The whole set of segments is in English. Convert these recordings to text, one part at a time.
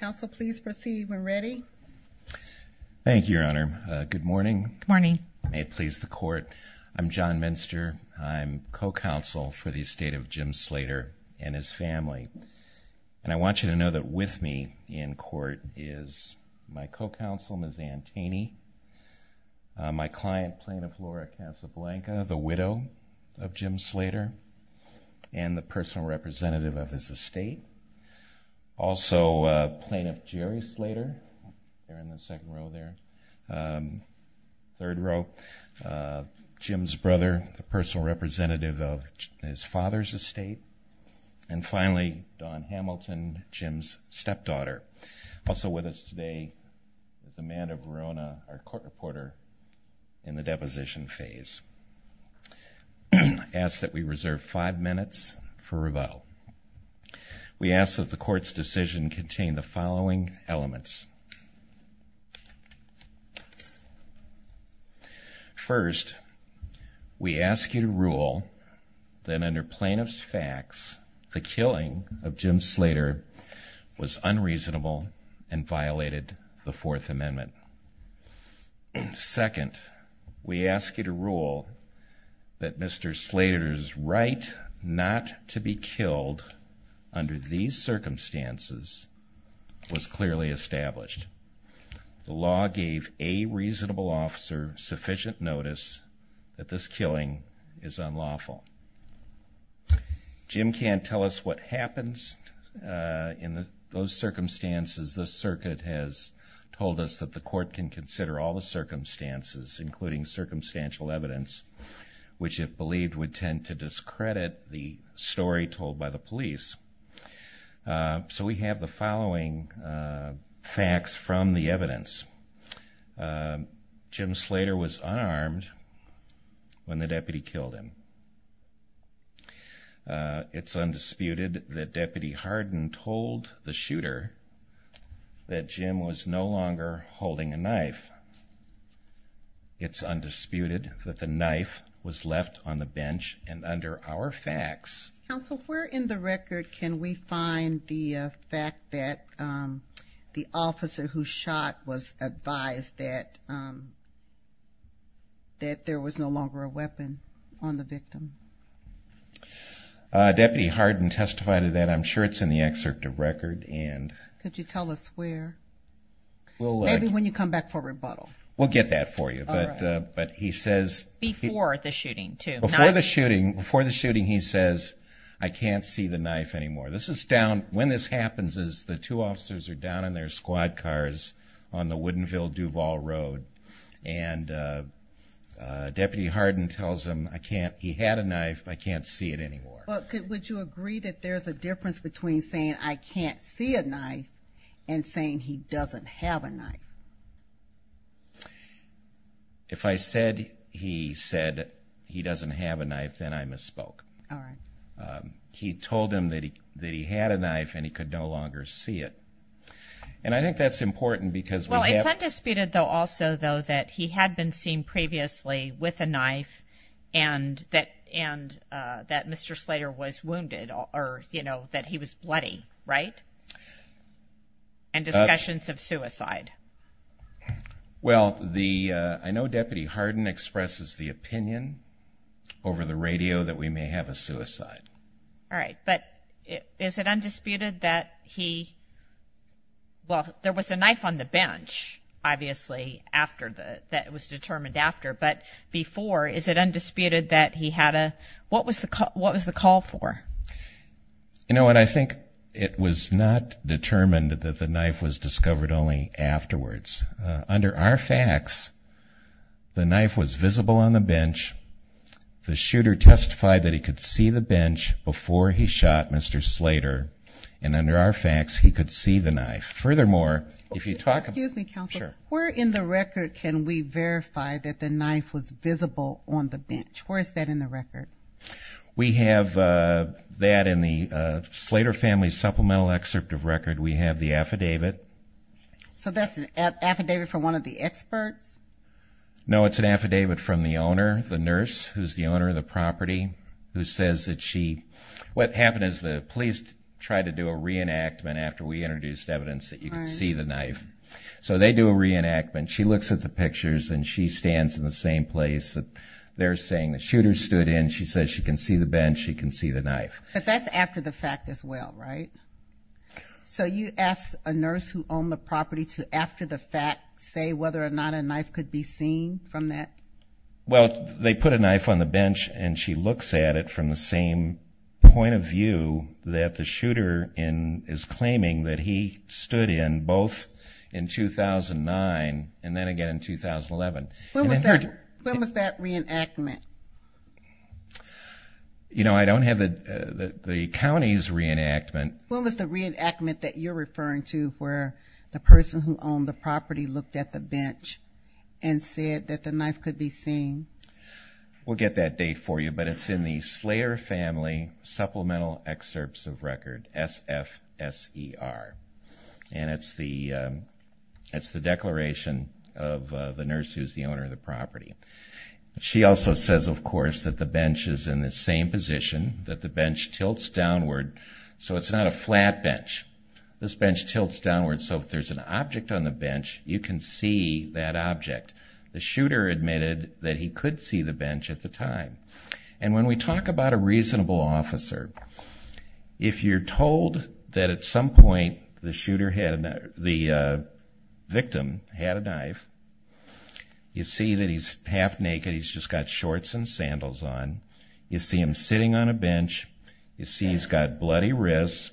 Council please proceed when ready. Thank you Your Honor. Good morning. Good morning. May it please the court. I'm John Minster. I'm co-counsel for the estate of Jim Slater and his family and I want you to know that with me in court is my co- counsel Ms. Ann Taney, my client plaintiff Laura Casablanca, the widow of Jim Slater's estate, also plaintiff Jerry Slater, third row, Jim's brother, the personal representative of his father's estate, and finally Don Hamilton, Jim's stepdaughter. Also with us today is Amanda Verona, our court reporter in the We ask that the court's decision contain the following elements. First, we ask you to rule that under plaintiff's facts the killing of Jim Slater was unreasonable and violated the Fourth Amendment. Second, we ask you to rule that Mr. Slater's intent not to be killed under these circumstances was clearly established. The law gave a reasonable officer sufficient notice that this killing is unlawful. Jim can't tell us what happens in those circumstances. The circuit has told us that the court can consider all the circumstances including circumstantial evidence which it believed would tend to discredit the story told by the police. So we have the following facts from the evidence. Jim Slater was unarmed when the deputy killed him. It's undisputed that Deputy Knife was left on the bench and under our facts. Counsel, where in the record can we find the fact that the officer who shot was advised that that there was no longer a weapon on the victim? Deputy Harden testified of that. I'm sure it's in the excerpt of record and... Could you tell us where? Maybe when you come back for rebuttal. We'll get that for you, but he says... Before the shooting, too. Before the shooting, he says, I can't see the knife anymore. This is down, when this happens is the two officers are down in their squad cars on the Woodinville Duval Road and Deputy Harden tells him, I can't, he had a knife, I can't see it anymore. Would you agree that there's a difference between saying I can't see a knife and saying he doesn't have a knife? If I said he said he doesn't have a knife, then I misspoke. He told him that he that he had a knife and he could no longer see it. And I think that's important because... Well, it's undisputed, though, also, though, that he had been seen previously with a knife and that Mr. Slater was wounded or, you know, that he was bloody, right? And discussions of suicide. Well, the... I know Deputy Harden expresses the opinion over the radio that we may have a suicide. All right, but is it undisputed that he... Well, there was a knife on the bench, obviously, after the... that was determined after, but before, is it undisputed that he had a... What was the call for? You know what, I think it was not determined that the knife was discovered only afterwards. Under our facts, the knife was visible on the bench. The shooter testified that he could see the bench before he shot Mr. Slater. And under our facts, he could see the knife. Furthermore, if you talk... Excuse me, counsel. Sure. Where in the bench? Where is that in the record? We have that in the Slater family supplemental excerpt of record. We have the affidavit. So that's an affidavit from one of the experts? No, it's an affidavit from the owner, the nurse, who's the owner of the property, who says that she... What happened is the police tried to do a reenactment after we introduced evidence that you can see the knife. So they do a reenactment of the pictures, and she stands in the same place that they're saying the shooter stood in. She says she can see the bench. She can see the knife. But that's after the fact as well, right? So you ask a nurse who owned the property to, after the fact, say whether or not a knife could be seen from that? Well, they put a knife on the bench, and she looks at it from the same point of view that the shooter is claiming that he stood in both in 2009, and then again in 2011. When was that reenactment? You know, I don't have the county's reenactment. When was the reenactment that you're referring to where the person who owned the property looked at the bench and said that the knife could be seen? We'll get that date for you, but it's in the Slater family supplemental excerpts of the nurse who's the owner of the property. She also says, of course, that the bench is in the same position, that the bench tilts downward. So it's not a flat bench. This bench tilts downward, so if there's an object on the bench, you can see that object. The shooter admitted that he could see the bench at the time. And when we talk about a reasonable officer, if you're told that at some point the victim had a knife, you see that he's half-naked. He's just got shorts and sandals on. You see him sitting on a bench. You see he's got bloody wrists,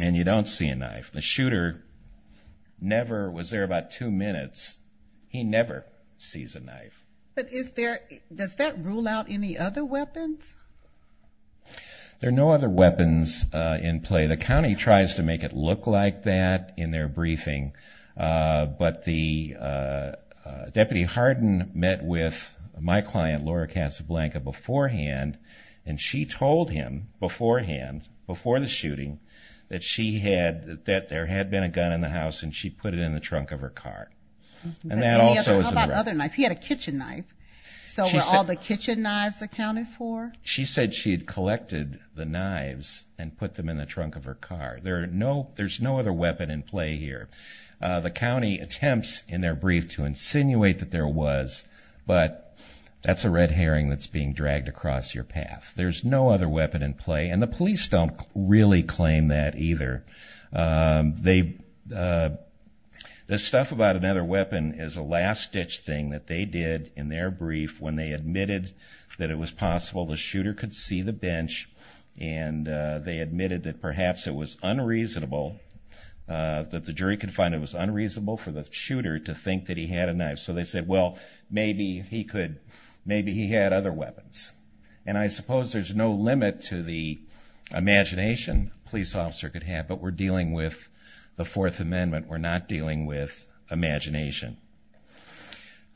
and you don't see a knife. The shooter never was there about two minutes. He never sees a knife. But does that rule out any other weapons? There are no other weapons in play. The county tries to make it look like that in their briefing, but the Deputy Hardin met with my client, Laura Casablanca, beforehand, and she told him beforehand, before the shooting, that she had, that there had been a gun in the house, and she put it in the trunk of her car. And that also is... How about other knives? He had a kitchen knife. So were all the kitchen knives accounted for? She said she had collected the knives and put them in the trunk of her car. There are no, there's no other weapon in play here. The county attempts in their brief to insinuate that there was, but that's a red herring that's being dragged across your path. There's no other weapon in play, and the police don't really claim that either. They, the stuff about another weapon is a last-ditch thing that they did in their brief when they admitted that it was possible the shooter could see the bench, and they admitted that perhaps it was unreasonable, that the jury could find it was unreasonable for the shooter to think that he had a knife. So they said, well, maybe he could, maybe he had other weapons. And I suppose there's no limit to the imagination a police officer could have, but we're dealing with the Fourth Amendment. We're not dealing with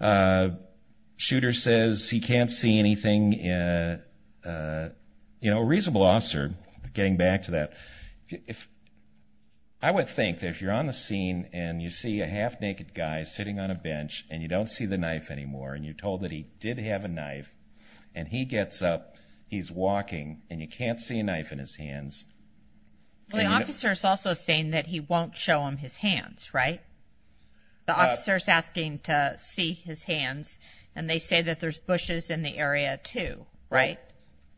uh, shooter says he can't see anything. Uh, you know, reasonable officer, getting back to that, if I would think that if you're on the scene and you see a half naked guy sitting on a bench and you don't see the knife anymore, and you told that he did have a knife and he gets up, he's walking and you can't see a knife in his hands. Well, the officer is also saying that he won't show him his hands, right? The officer is asking to see his hands, and they say that there's bushes in the area too, right?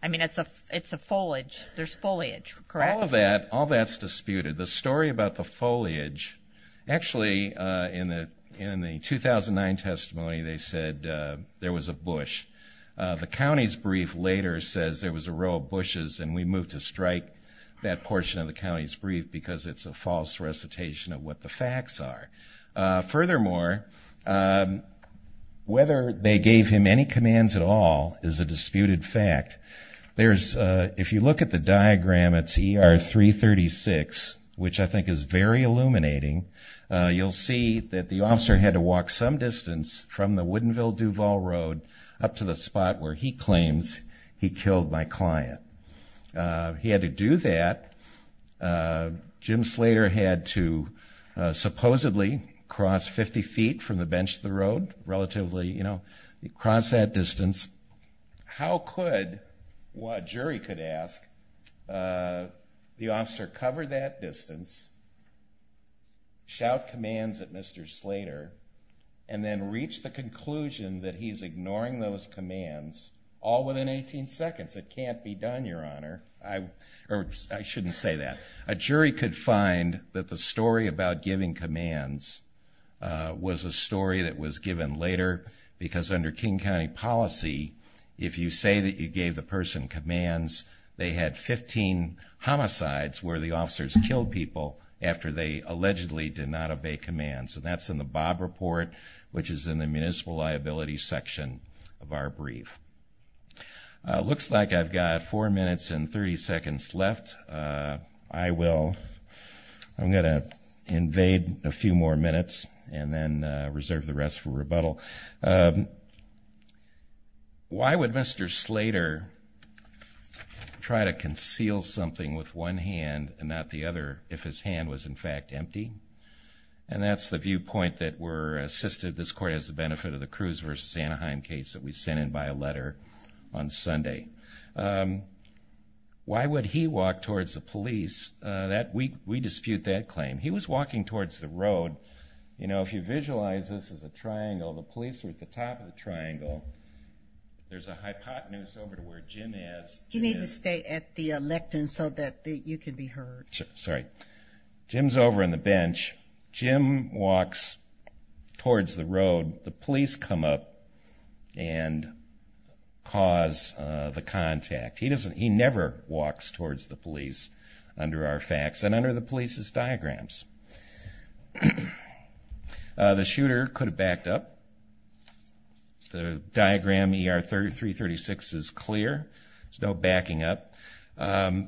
I mean, it's a, it's a foliage, there's foliage, correct? All of that, all that's disputed. The story about the foliage, actually, uh, in the, in the 2009 testimony, they said, uh, there was a bush. Uh, the county's brief later says there was a row of bushes and we moved to strike that portion of the county's brief because it's a false recitation of what the facts are. Uh, furthermore, um, whether they gave him any commands at all is a disputed fact. There's, uh, if you look at the diagram, it's ER 336, which I think is very illuminating. Uh, you'll see that the officer had to walk some distance from the Woodinville Duval Road up to the spot where he claims he supposedly crossed 50 feet from the bench of the road, relatively, you know, cross that distance. How could a jury could ask, uh, the officer cover that distance, shout commands at Mr Slater and then reach the conclusion that he's ignoring those commands all within 18 seconds. It can't be done, Your Honor. I, I shouldn't say that. A jury could find that the story about giving commands, uh, was a story that was given later because under King County policy, if you say that you gave the person commands, they had 15 homicides where the officers killed people after they allegedly did not obey commands. And that's in the Bob report, which is in the municipal liability section of our brief. Uh, looks like I've got four minutes and 30 seconds left. Uh, I will, I'm going to invade a few more minutes and then reserve the rest for rebuttal. Um, why would Mr Slater try to conceal something with one hand and not the other if his hand was in fact empty? And that's the viewpoint that were assisted. This court has the a letter on Sunday. Um, why would he walk towards the police that week? We dispute that claim. He was walking towards the road. You know, if you visualize this as a triangle, the police were at the top of the triangle. There's a hypotenuse over to where Jim is. You need to stay at the lectern so that you could be heard. Sorry. Jim's over on the bench. Jim walks towards the road. The police come up and cause the contact. He doesn't, he never walks towards the police under our facts and under the police's diagrams. The shooter could have backed up. The diagram er 33 36 is clear. There's no backing up. Um, yeah.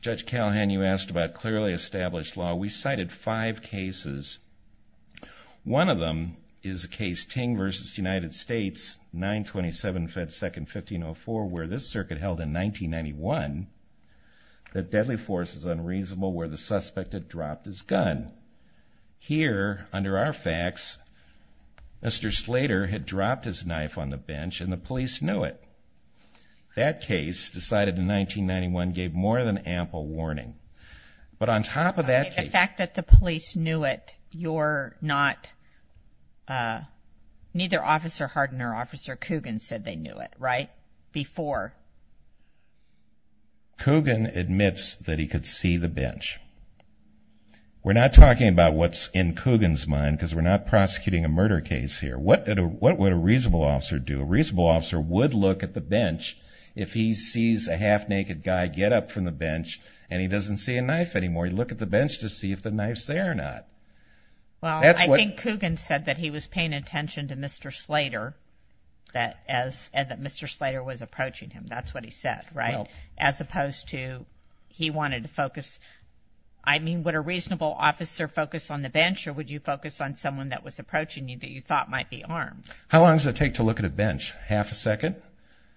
Judge Callahan, you asked about clearly established law. We cited five cases. One of them is a case ting versus United States 9 27 Fed second 15 oh four where this circuit held in 1991. The deadly force is unreasonable where the suspect had dropped his gun here under our facts. Mr Slater had dropped his gun. The fact that the police knew it, you're not, uh, neither officer Harden or officer Coogan said they knew it right before Coogan admits that he could see the bench. We're not talking about what's in Coogan's mind because we're not prosecuting a murder case here. What would a reasonable officer do? A half naked guy get up from the bench and he doesn't see a knife anymore. You look at the bench to see if the knife's there or not. Well, I think Coogan said that he was paying attention to Mr Slater that as Mr Slater was approaching him. That's what he said, right? As opposed to he wanted to focus. I mean, what a reasonable officer focus on the bench or would you focus on someone that was approaching you that you thought might be armed? How long does it take to look at a bench? Half a second.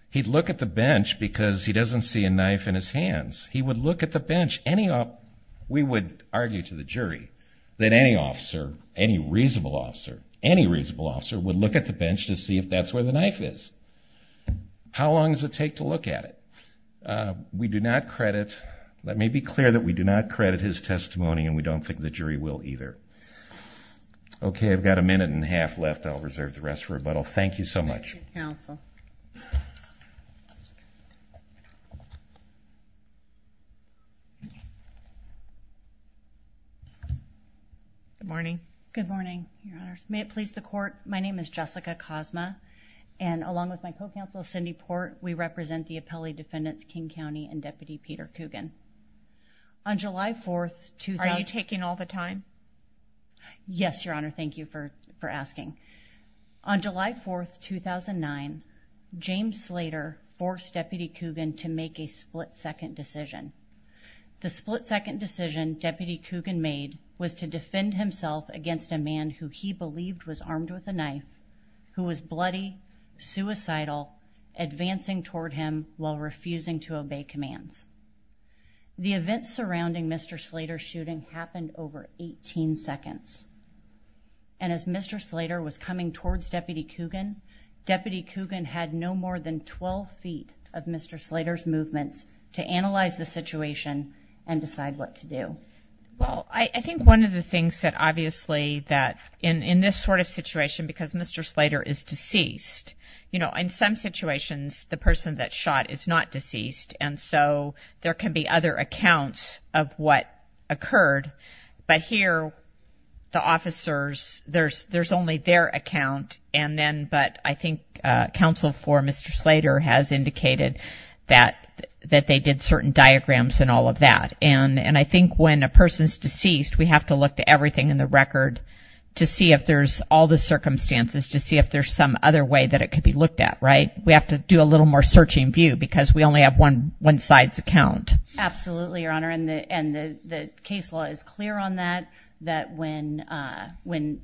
He'd look at the bench because he doesn't see a knife in his hands. He would look at the bench any up. We would argue to the jury that any officer, any reasonable officer, any reasonable officer would look at the bench to see if that's where the knife is. How long does it take to look at it? Uh, we do not credit. Let me be clear that we do not credit his testimony and we don't think the jury will either. Okay, I've got a minute and a half left. I'll reserve the rest for rebuttal. Thank you so much counsel. Okay. Good morning. Good morning. May it please the court. My name is Jessica Cosmo and along with my co counsel Cindy Port. We represent the appellee defendants, King County and Deputy Peter Coogan on July 4th. Are you taking all the time? Yes, Your Honor. Thank you for for asking. On July 4th 2009 James Slater forced Deputy Coogan to make a split second decision. The split second decision Deputy Coogan made was to defend himself against a man who he believed was armed with a knife, who was bloody, suicidal, advancing toward him while refusing to obey commands. The events surrounding Mr Slater shooting happened over 18 seconds. And as Mr Slater was coming towards Deputy Coogan, Deputy Coogan had no more than 12 ft of Mr Slater's movements to analyze the situation and decide what to do. Well, I think one of the things that obviously that in in this sort of situation, because Mr Slater is deceased, you know, in some situations the person that shot is not deceased. And so there can be other accounts of what occurred. But here the officers, there's there's only their account. And then, but I think counsel for Mr Slater has indicated that that they did certain diagrams and all of that. And I think when a person's deceased, we have to look to everything in the record to see if there's all the circumstances to see if there's some other way that it could be looked at. Right. We have to do a little more searching view because we only have one one side's account. Absolutely, Your Honor. And the case law is clear on that, that when when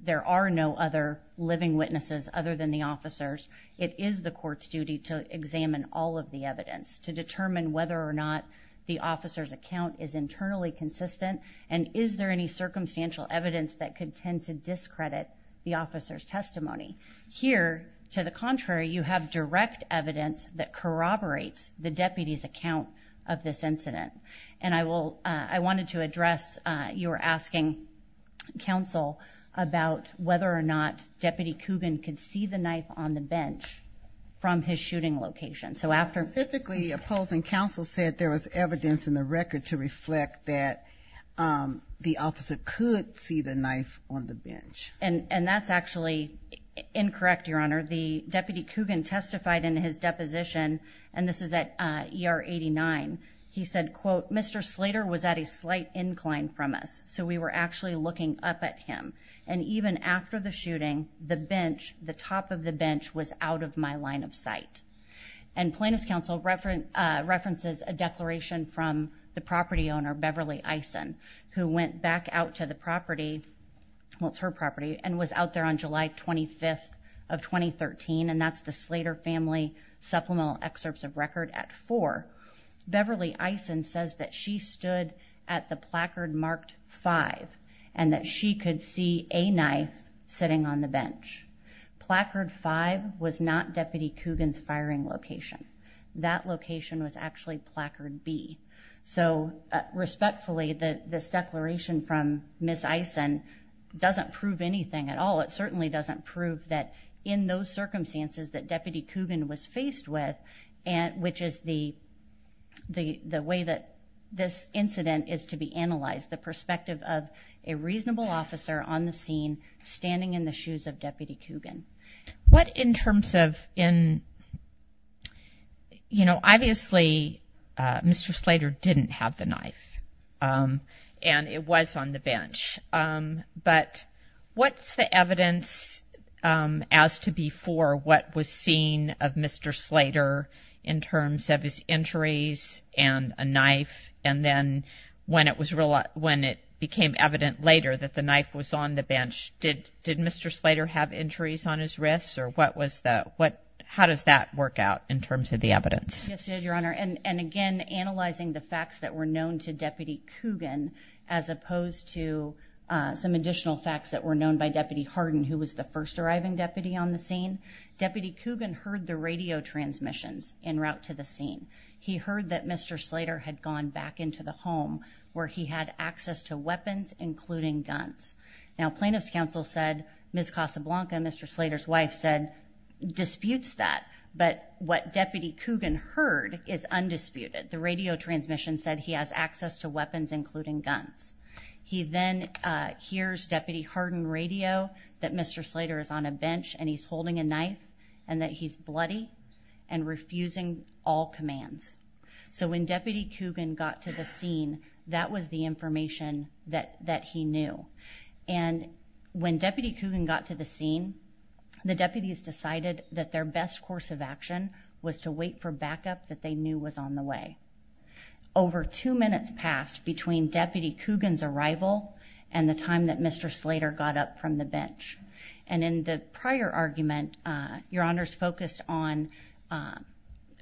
there are no other living witnesses other than the officers, it is the court's duty to examine all of the evidence to determine whether or not the officer's account is internally consistent. And is there any circumstantial evidence that could tend to discredit the officer's testimony here? To the contrary, you have direct evidence that corroborates the deputy's account of this incident. And I will, I wanted to you were asking counsel about whether or not Deputy Coogan could see the knife on the bench from his shooting location. So after typically opposing counsel said there was evidence in the record to reflect that, um, the officer could see the knife on the bench. And that's actually incorrect. Your Honor. The deputy Coogan testified in his deposition and this is at er 89. He said, quote, Mr Slater was at a slight incline from us. So we were actually looking up at him. And even after the shooting, the bench, the top of the bench was out of my line of sight. And plaintiff's counsel reference references a declaration from the property owner, Beverly Ison, who went back out to the property, what's her property and was out there on July 25th of 2013. And that's the Slater family supplemental excerpts of record at four. Beverly Ison says that she stood at the placard marked five and that she could see a knife sitting on the bench. Placard five was not deputy Coogan's firing location. That location was actually placard B. So respectfully, this declaration from Miss Ison doesn't prove anything at all. It certainly doesn't prove that in those circumstances that Deputy Coogan was faced with and which is the the way that this incident is to be analyzed. The perspective of a reasonable officer on the scene standing in the shoes of Deputy Coogan. What in terms of in, you know, obviously Mr Slater didn't have the knife. Um, and it was on the Mr Slater in terms of his injuries and a knife. And then when it was when it became evident later that the knife was on the bench, did did Mr Slater have injuries on his wrists or what was the what? How does that work out in terms of the evidence? Yes, your honor. And again, analyzing the facts that were known to Deputy Coogan as opposed to some additional facts that were known by Deputy Harden, who was the first arriving deputy on the scene. Deputy Coogan heard the radio transmissions in route to the scene. He heard that Mr Slater had gone back into the home where he had access to weapons, including guns. Now, plaintiffs counsel said, Miss Casablanca, Mr Slater's wife said disputes that. But what Deputy Coogan heard is undisputed. The radio transmission said he has access to weapons, including guns. He then hears Deputy Harden radio that Mr Slater is on a bench and he's holding a knife and that he's bloody and refusing all commands. So when Deputy Coogan got to the scene, that was the information that that he knew. And when Deputy Coogan got to the scene, the deputies decided that their best course of action was to wait for backup that they knew was on the way. Over two minutes passed between Deputy Coogan's arrival and the time that Mr Slater got up from the bench. And in the prior argument, uh, your honors focused on, uh,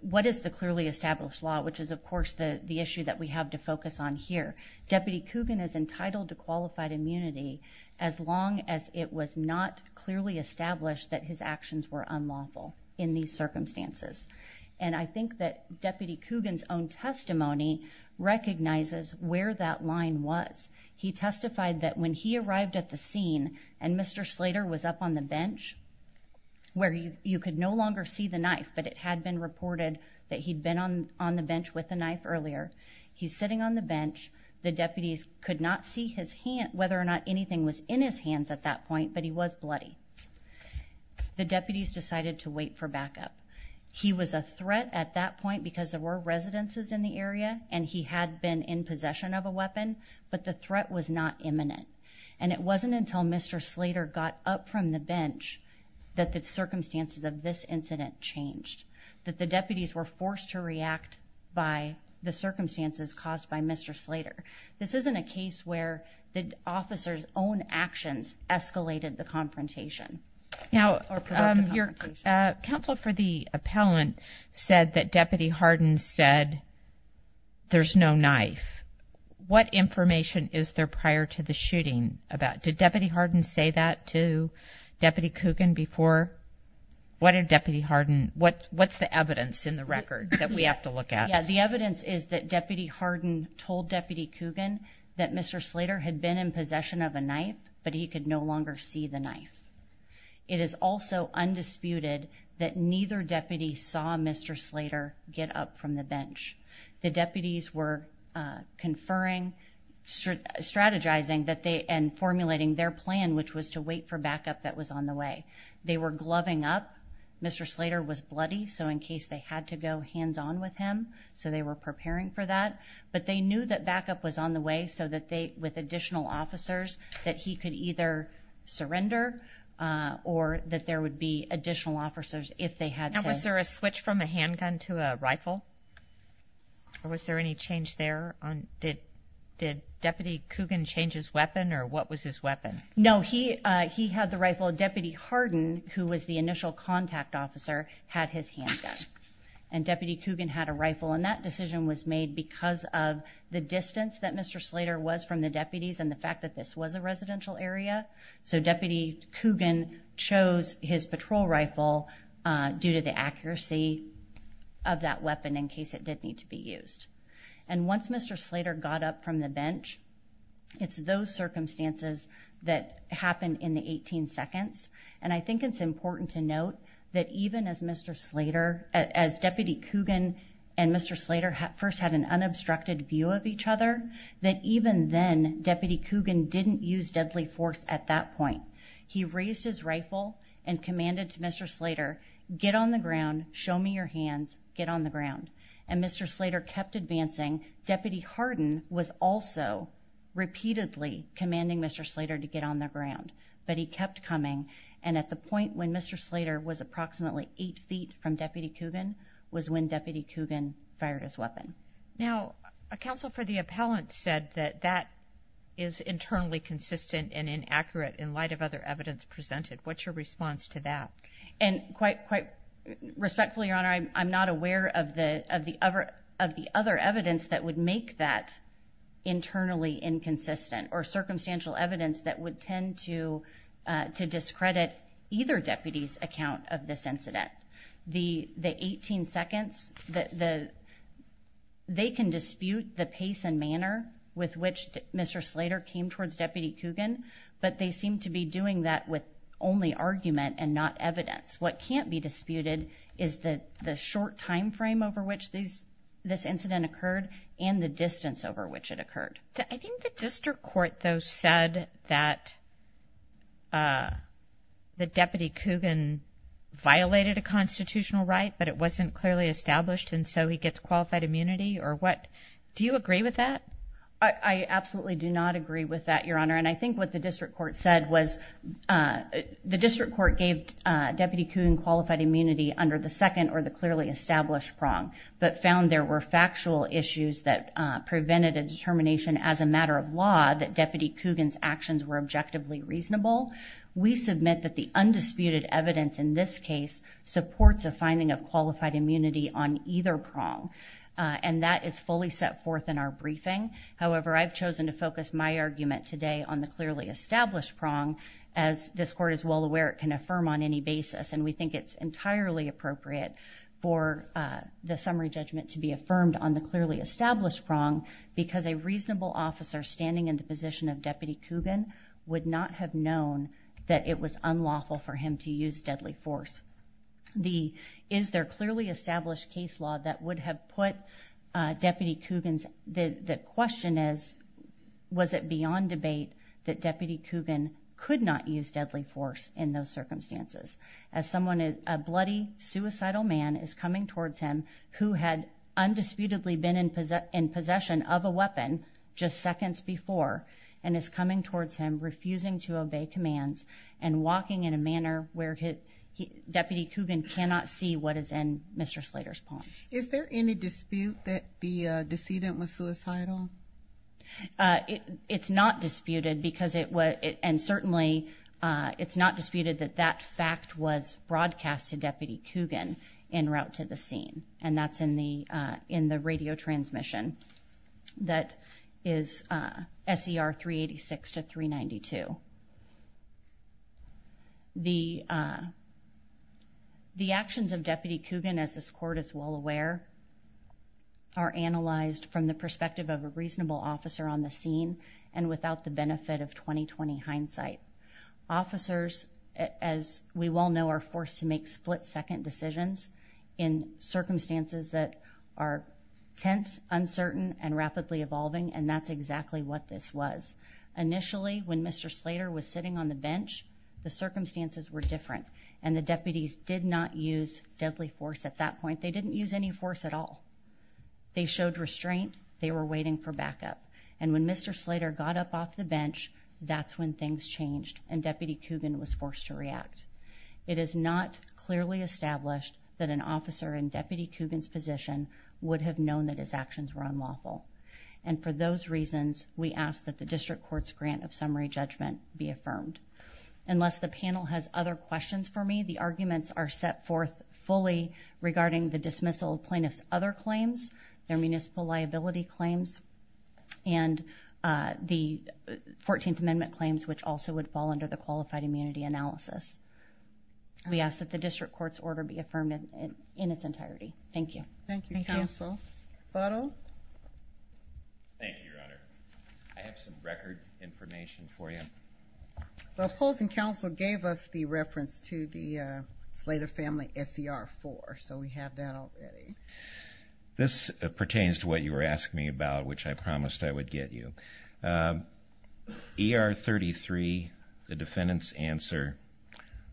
what is the clearly established law, which is, of course, the issue that we have to focus on here. Deputy Coogan is entitled to qualified immunity as long as it was not clearly established that his actions were unlawful in these circumstances. And I think that Deputy Coogan's own testimony recognizes where that line was. He testified that when he arrived at the scene and Mr Slater was up on the bench where you could no longer see the knife, but it had been reported that he'd been on on the bench with the knife earlier. He's sitting on the bench. The deputies could not see his hand, whether or not anything was in his hands at that point, but he was bloody. The deputies decided to wait for backup. He was a threat at that point because there were residences in the area and he had been in possession of a weapon, but the threat was not imminent. And it wasn't until Mr Slater got up from the bench that the circumstances of this incident changed that the deputies were forced to react by the circumstances caused by Mr Slater. This isn't a case where the officers own actions escalated the confrontation. Now, um, your council for the appellant said that Deputy Harden said there's no knife. What information is there prior to the shooting about? Did Deputy Harden say that to Deputy Coogan before? What are Deputy Harden? What? What's the evidence in the record that we have to look at? The evidence is that Deputy Harden told Deputy Coogan that Mr Slater had been in possession of a knife, but he could no longer see the knife. It is also undisputed that neither deputy saw Mr Slater get up from the bench. The deputies were conferring, strategizing that they and formulating their plan, which was to wait for backup that was on the way they were gloving up. Mr Slater was bloody. So in case they had to go hands on with him, so they were preparing for that. But they knew that backup was on the way so that they with additional officers that he could either surrender or that there would be additional officers if they had. Was there a switch from a handgun to a rifle? Or was there any change there on? Did did Deputy Coogan changes weapon or what was his weapon? No, he he had the rifle. Deputy Harden, who was the initial contact officer, had his handgun and Deputy Coogan had a rifle and that decision was made because of the distance that Mr Slater was from the deputies and the fact that this was a residential area. So Deputy Coogan chose his patrol rifle due to the accuracy of that weapon in case it did need to be used. And once Mr Slater got up from the bench, it's those circumstances that happened in the 18 seconds. And I think it's important to note that even as Mr Slater as Deputy Coogan and Mr Slater first had an obstructed view of each other, that even then, Deputy Coogan didn't use deadly force. At that point, he raised his rifle and commanded to Mr Slater, get on the ground, show me your hands, get on the ground. And Mr Slater kept advancing. Deputy Harden was also repeatedly commanding Mr Slater to get on the ground, but he kept coming. And at the point when Mr Slater was approximately eight ft from Deputy Coogan was when Deputy Coogan fired his now, a council for the appellant said that that is internally consistent and inaccurate in light of other evidence presented. What's your response to that? And quite quite respectfully, Your Honor, I'm not aware of the of the other of the other evidence that would make that internally inconsistent or circumstantial evidence that would tend to to discredit either deputies account of this incident. The 18 seconds that the they can dispute the pace and manner with which Mr Slater came towards Deputy Coogan. But they seem to be doing that with only argument and not evidence. What can't be disputed is the short time frame over which these this incident occurred and the distance over which it occurred. I think the district court, though, said that, uh, the Deputy Coogan violated a constitutional right, but it wasn't clearly established. And so he gets qualified immunity or what. Do you agree with that? I absolutely do not agree with that, Your Honor. And I think what the district court said was, uh, the district court gave Deputy Coogan qualified immunity under the second or the clearly established prong, but found of law that Deputy Coogan's actions were objectively reasonable. We submit that the undisputed evidence in this case supports a finding of qualified immunity on either prong on that is fully set forth in our briefing. However, I've chosen to focus my argument today on the clearly established prong. As this court is well aware, it can affirm on any basis, and we think it's entirely appropriate for the summary judgment to be affirmed on the clearly established prong because a reasonable officer standing in the position of Deputy Coogan would not have known that it was unlawful for him to use deadly force. The is there clearly established case law that would have put Deputy Coogan's? The question is, was it beyond debate that Deputy Coogan could not use deadly force in those circumstances as someone is a disputedly been in possession of a weapon just seconds before and is coming towards him, refusing to obey commands and walking in a manner where his Deputy Coogan cannot see what is in Mr Slater's palms. Is there any dispute that the decedent was suicidal? Uh, it's not disputed because it was. And certainly, uh, it's not disputed that that fact was broadcast to Deputy Coogan in route to the scene. And that's in the in the radio transmission that is, uh, S. E. R. 3 86 to 3 92. The, uh, the actions of Deputy Coogan, as this court is well aware, are analyzed from the perspective of a reasonable officer on the scene and without the benefit of 2020 hindsight. Officers, as we well know, are forced to that are tense, uncertain and rapidly evolving. And that's exactly what this was. Initially, when Mr Slater was sitting on the bench, the circumstances were different, and the deputies did not use deadly force. At that point, they didn't use any force at all. They showed restraint. They were waiting for backup. And when Mr Slater got up off the bench, that's when things changed and Deputy Coogan was forced to react. It is not clearly established that an physician would have known that his actions were unlawful. And for those reasons, we ask that the district court's grant of summary judgment be affirmed. Unless the panel has other questions for me, the arguments are set forth fully regarding the dismissal plaintiffs, other claims, their municipal liability claims and, uh, the 14th Amendment claims, which also would fall under the qualified immunity analysis. We ask that the district court's order be affirmed in in its entirety. Thank you. Thank you, Counsel. Bottle. Thank you, Your Honor. I have some record information for you. The opposing counsel gave us the reference to the Slater family S. E. R. Four. So we have that already. This pertains to what you were asking me about, which I promised I would get you. Um, er 33. The defendant's answer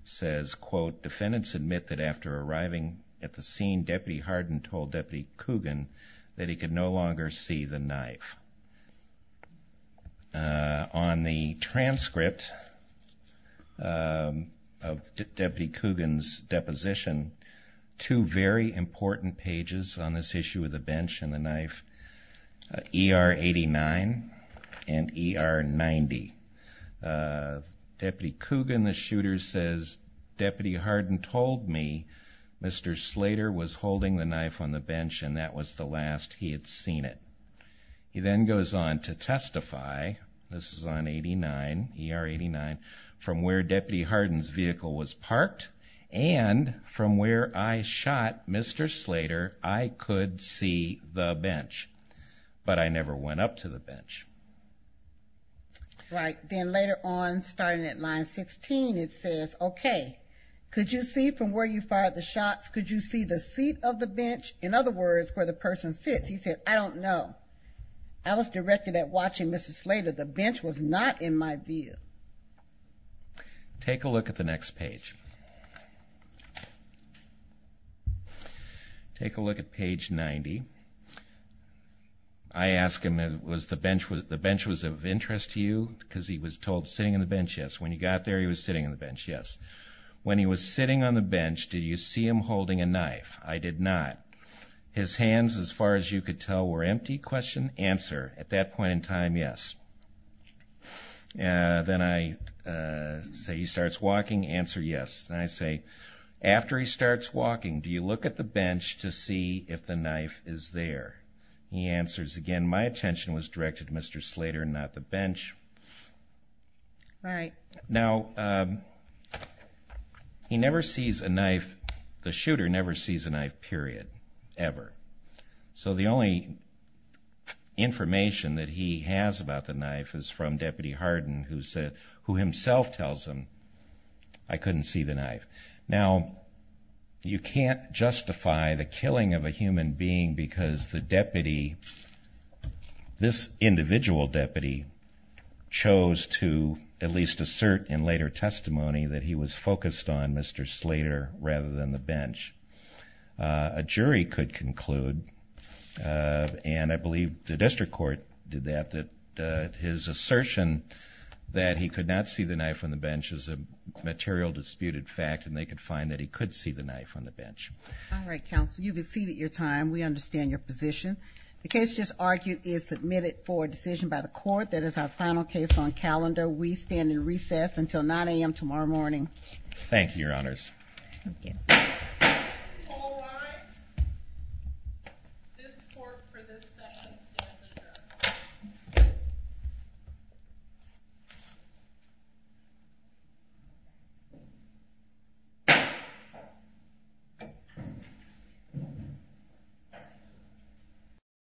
says, quote, defendants admit that after arriving at the scene, Deputy Harden told Deputy Coogan that he could no longer see the knife on the transcript. Um, of Deputy Coogan's deposition. Two very important pages on this issue of the bench and the knife. E. R. 89 and E. R. 90. Uh, Deputy Coogan, the told me Mr Slater was holding the knife on the bench, and that was the last he had seen it. He then goes on to testify. This is on 89 E. R. 89 from where Deputy Harden's vehicle was parked. And from where I shot Mr Slater, I could see the bench, but I never went up to the bench. Right. Then later on, starting at line 16, it says, Okay, could you see from where you fired the shots? Could you see the seat of the bench? In other words, where the person sits? He said, I don't know. I was directed at watching Mr Slater. The bench was not in my view. Take a look at the next page. Take a look at page 90. I ask him, was the bench was the bench was of interest to you because he was told sitting on the bench? Yes. When you got there, he was sitting on the bench. Yes. When he was sitting on the bench, do you see him holding a knife? I did not. His hands, as far as you could tell, were empty. Question answer at that point in time. Yes. Uh, then I, uh, say he starts walking answer. Yes. And I say, after he starts walking, do you look at the bench to see if the knife is there? He answers again. My attention was directed Mr Slater, not the bench. All right now, he never sees a knife. The shooter never sees a knife period ever. So the only information that he has about the knife is from Deputy Harden, who said, who you can't justify the killing of a human being because the deputy, this individual deputy chose to at least assert in later testimony that he was focused on Mr Slater rather than the bench. A jury could conclude, uh, and I believe the district court did that, that his assertion that he could not see the knife on the bench is a material disputed fact, and they could find that he could see the knife on the bench. All right, counsel, you could see that your time. We understand your position. The case just argued is submitted for a decision by the court. That is our final case on calendar. We stand in recess until nine a.m. Tomorrow morning. Thank you, Your honors. All right, this court for this mhm.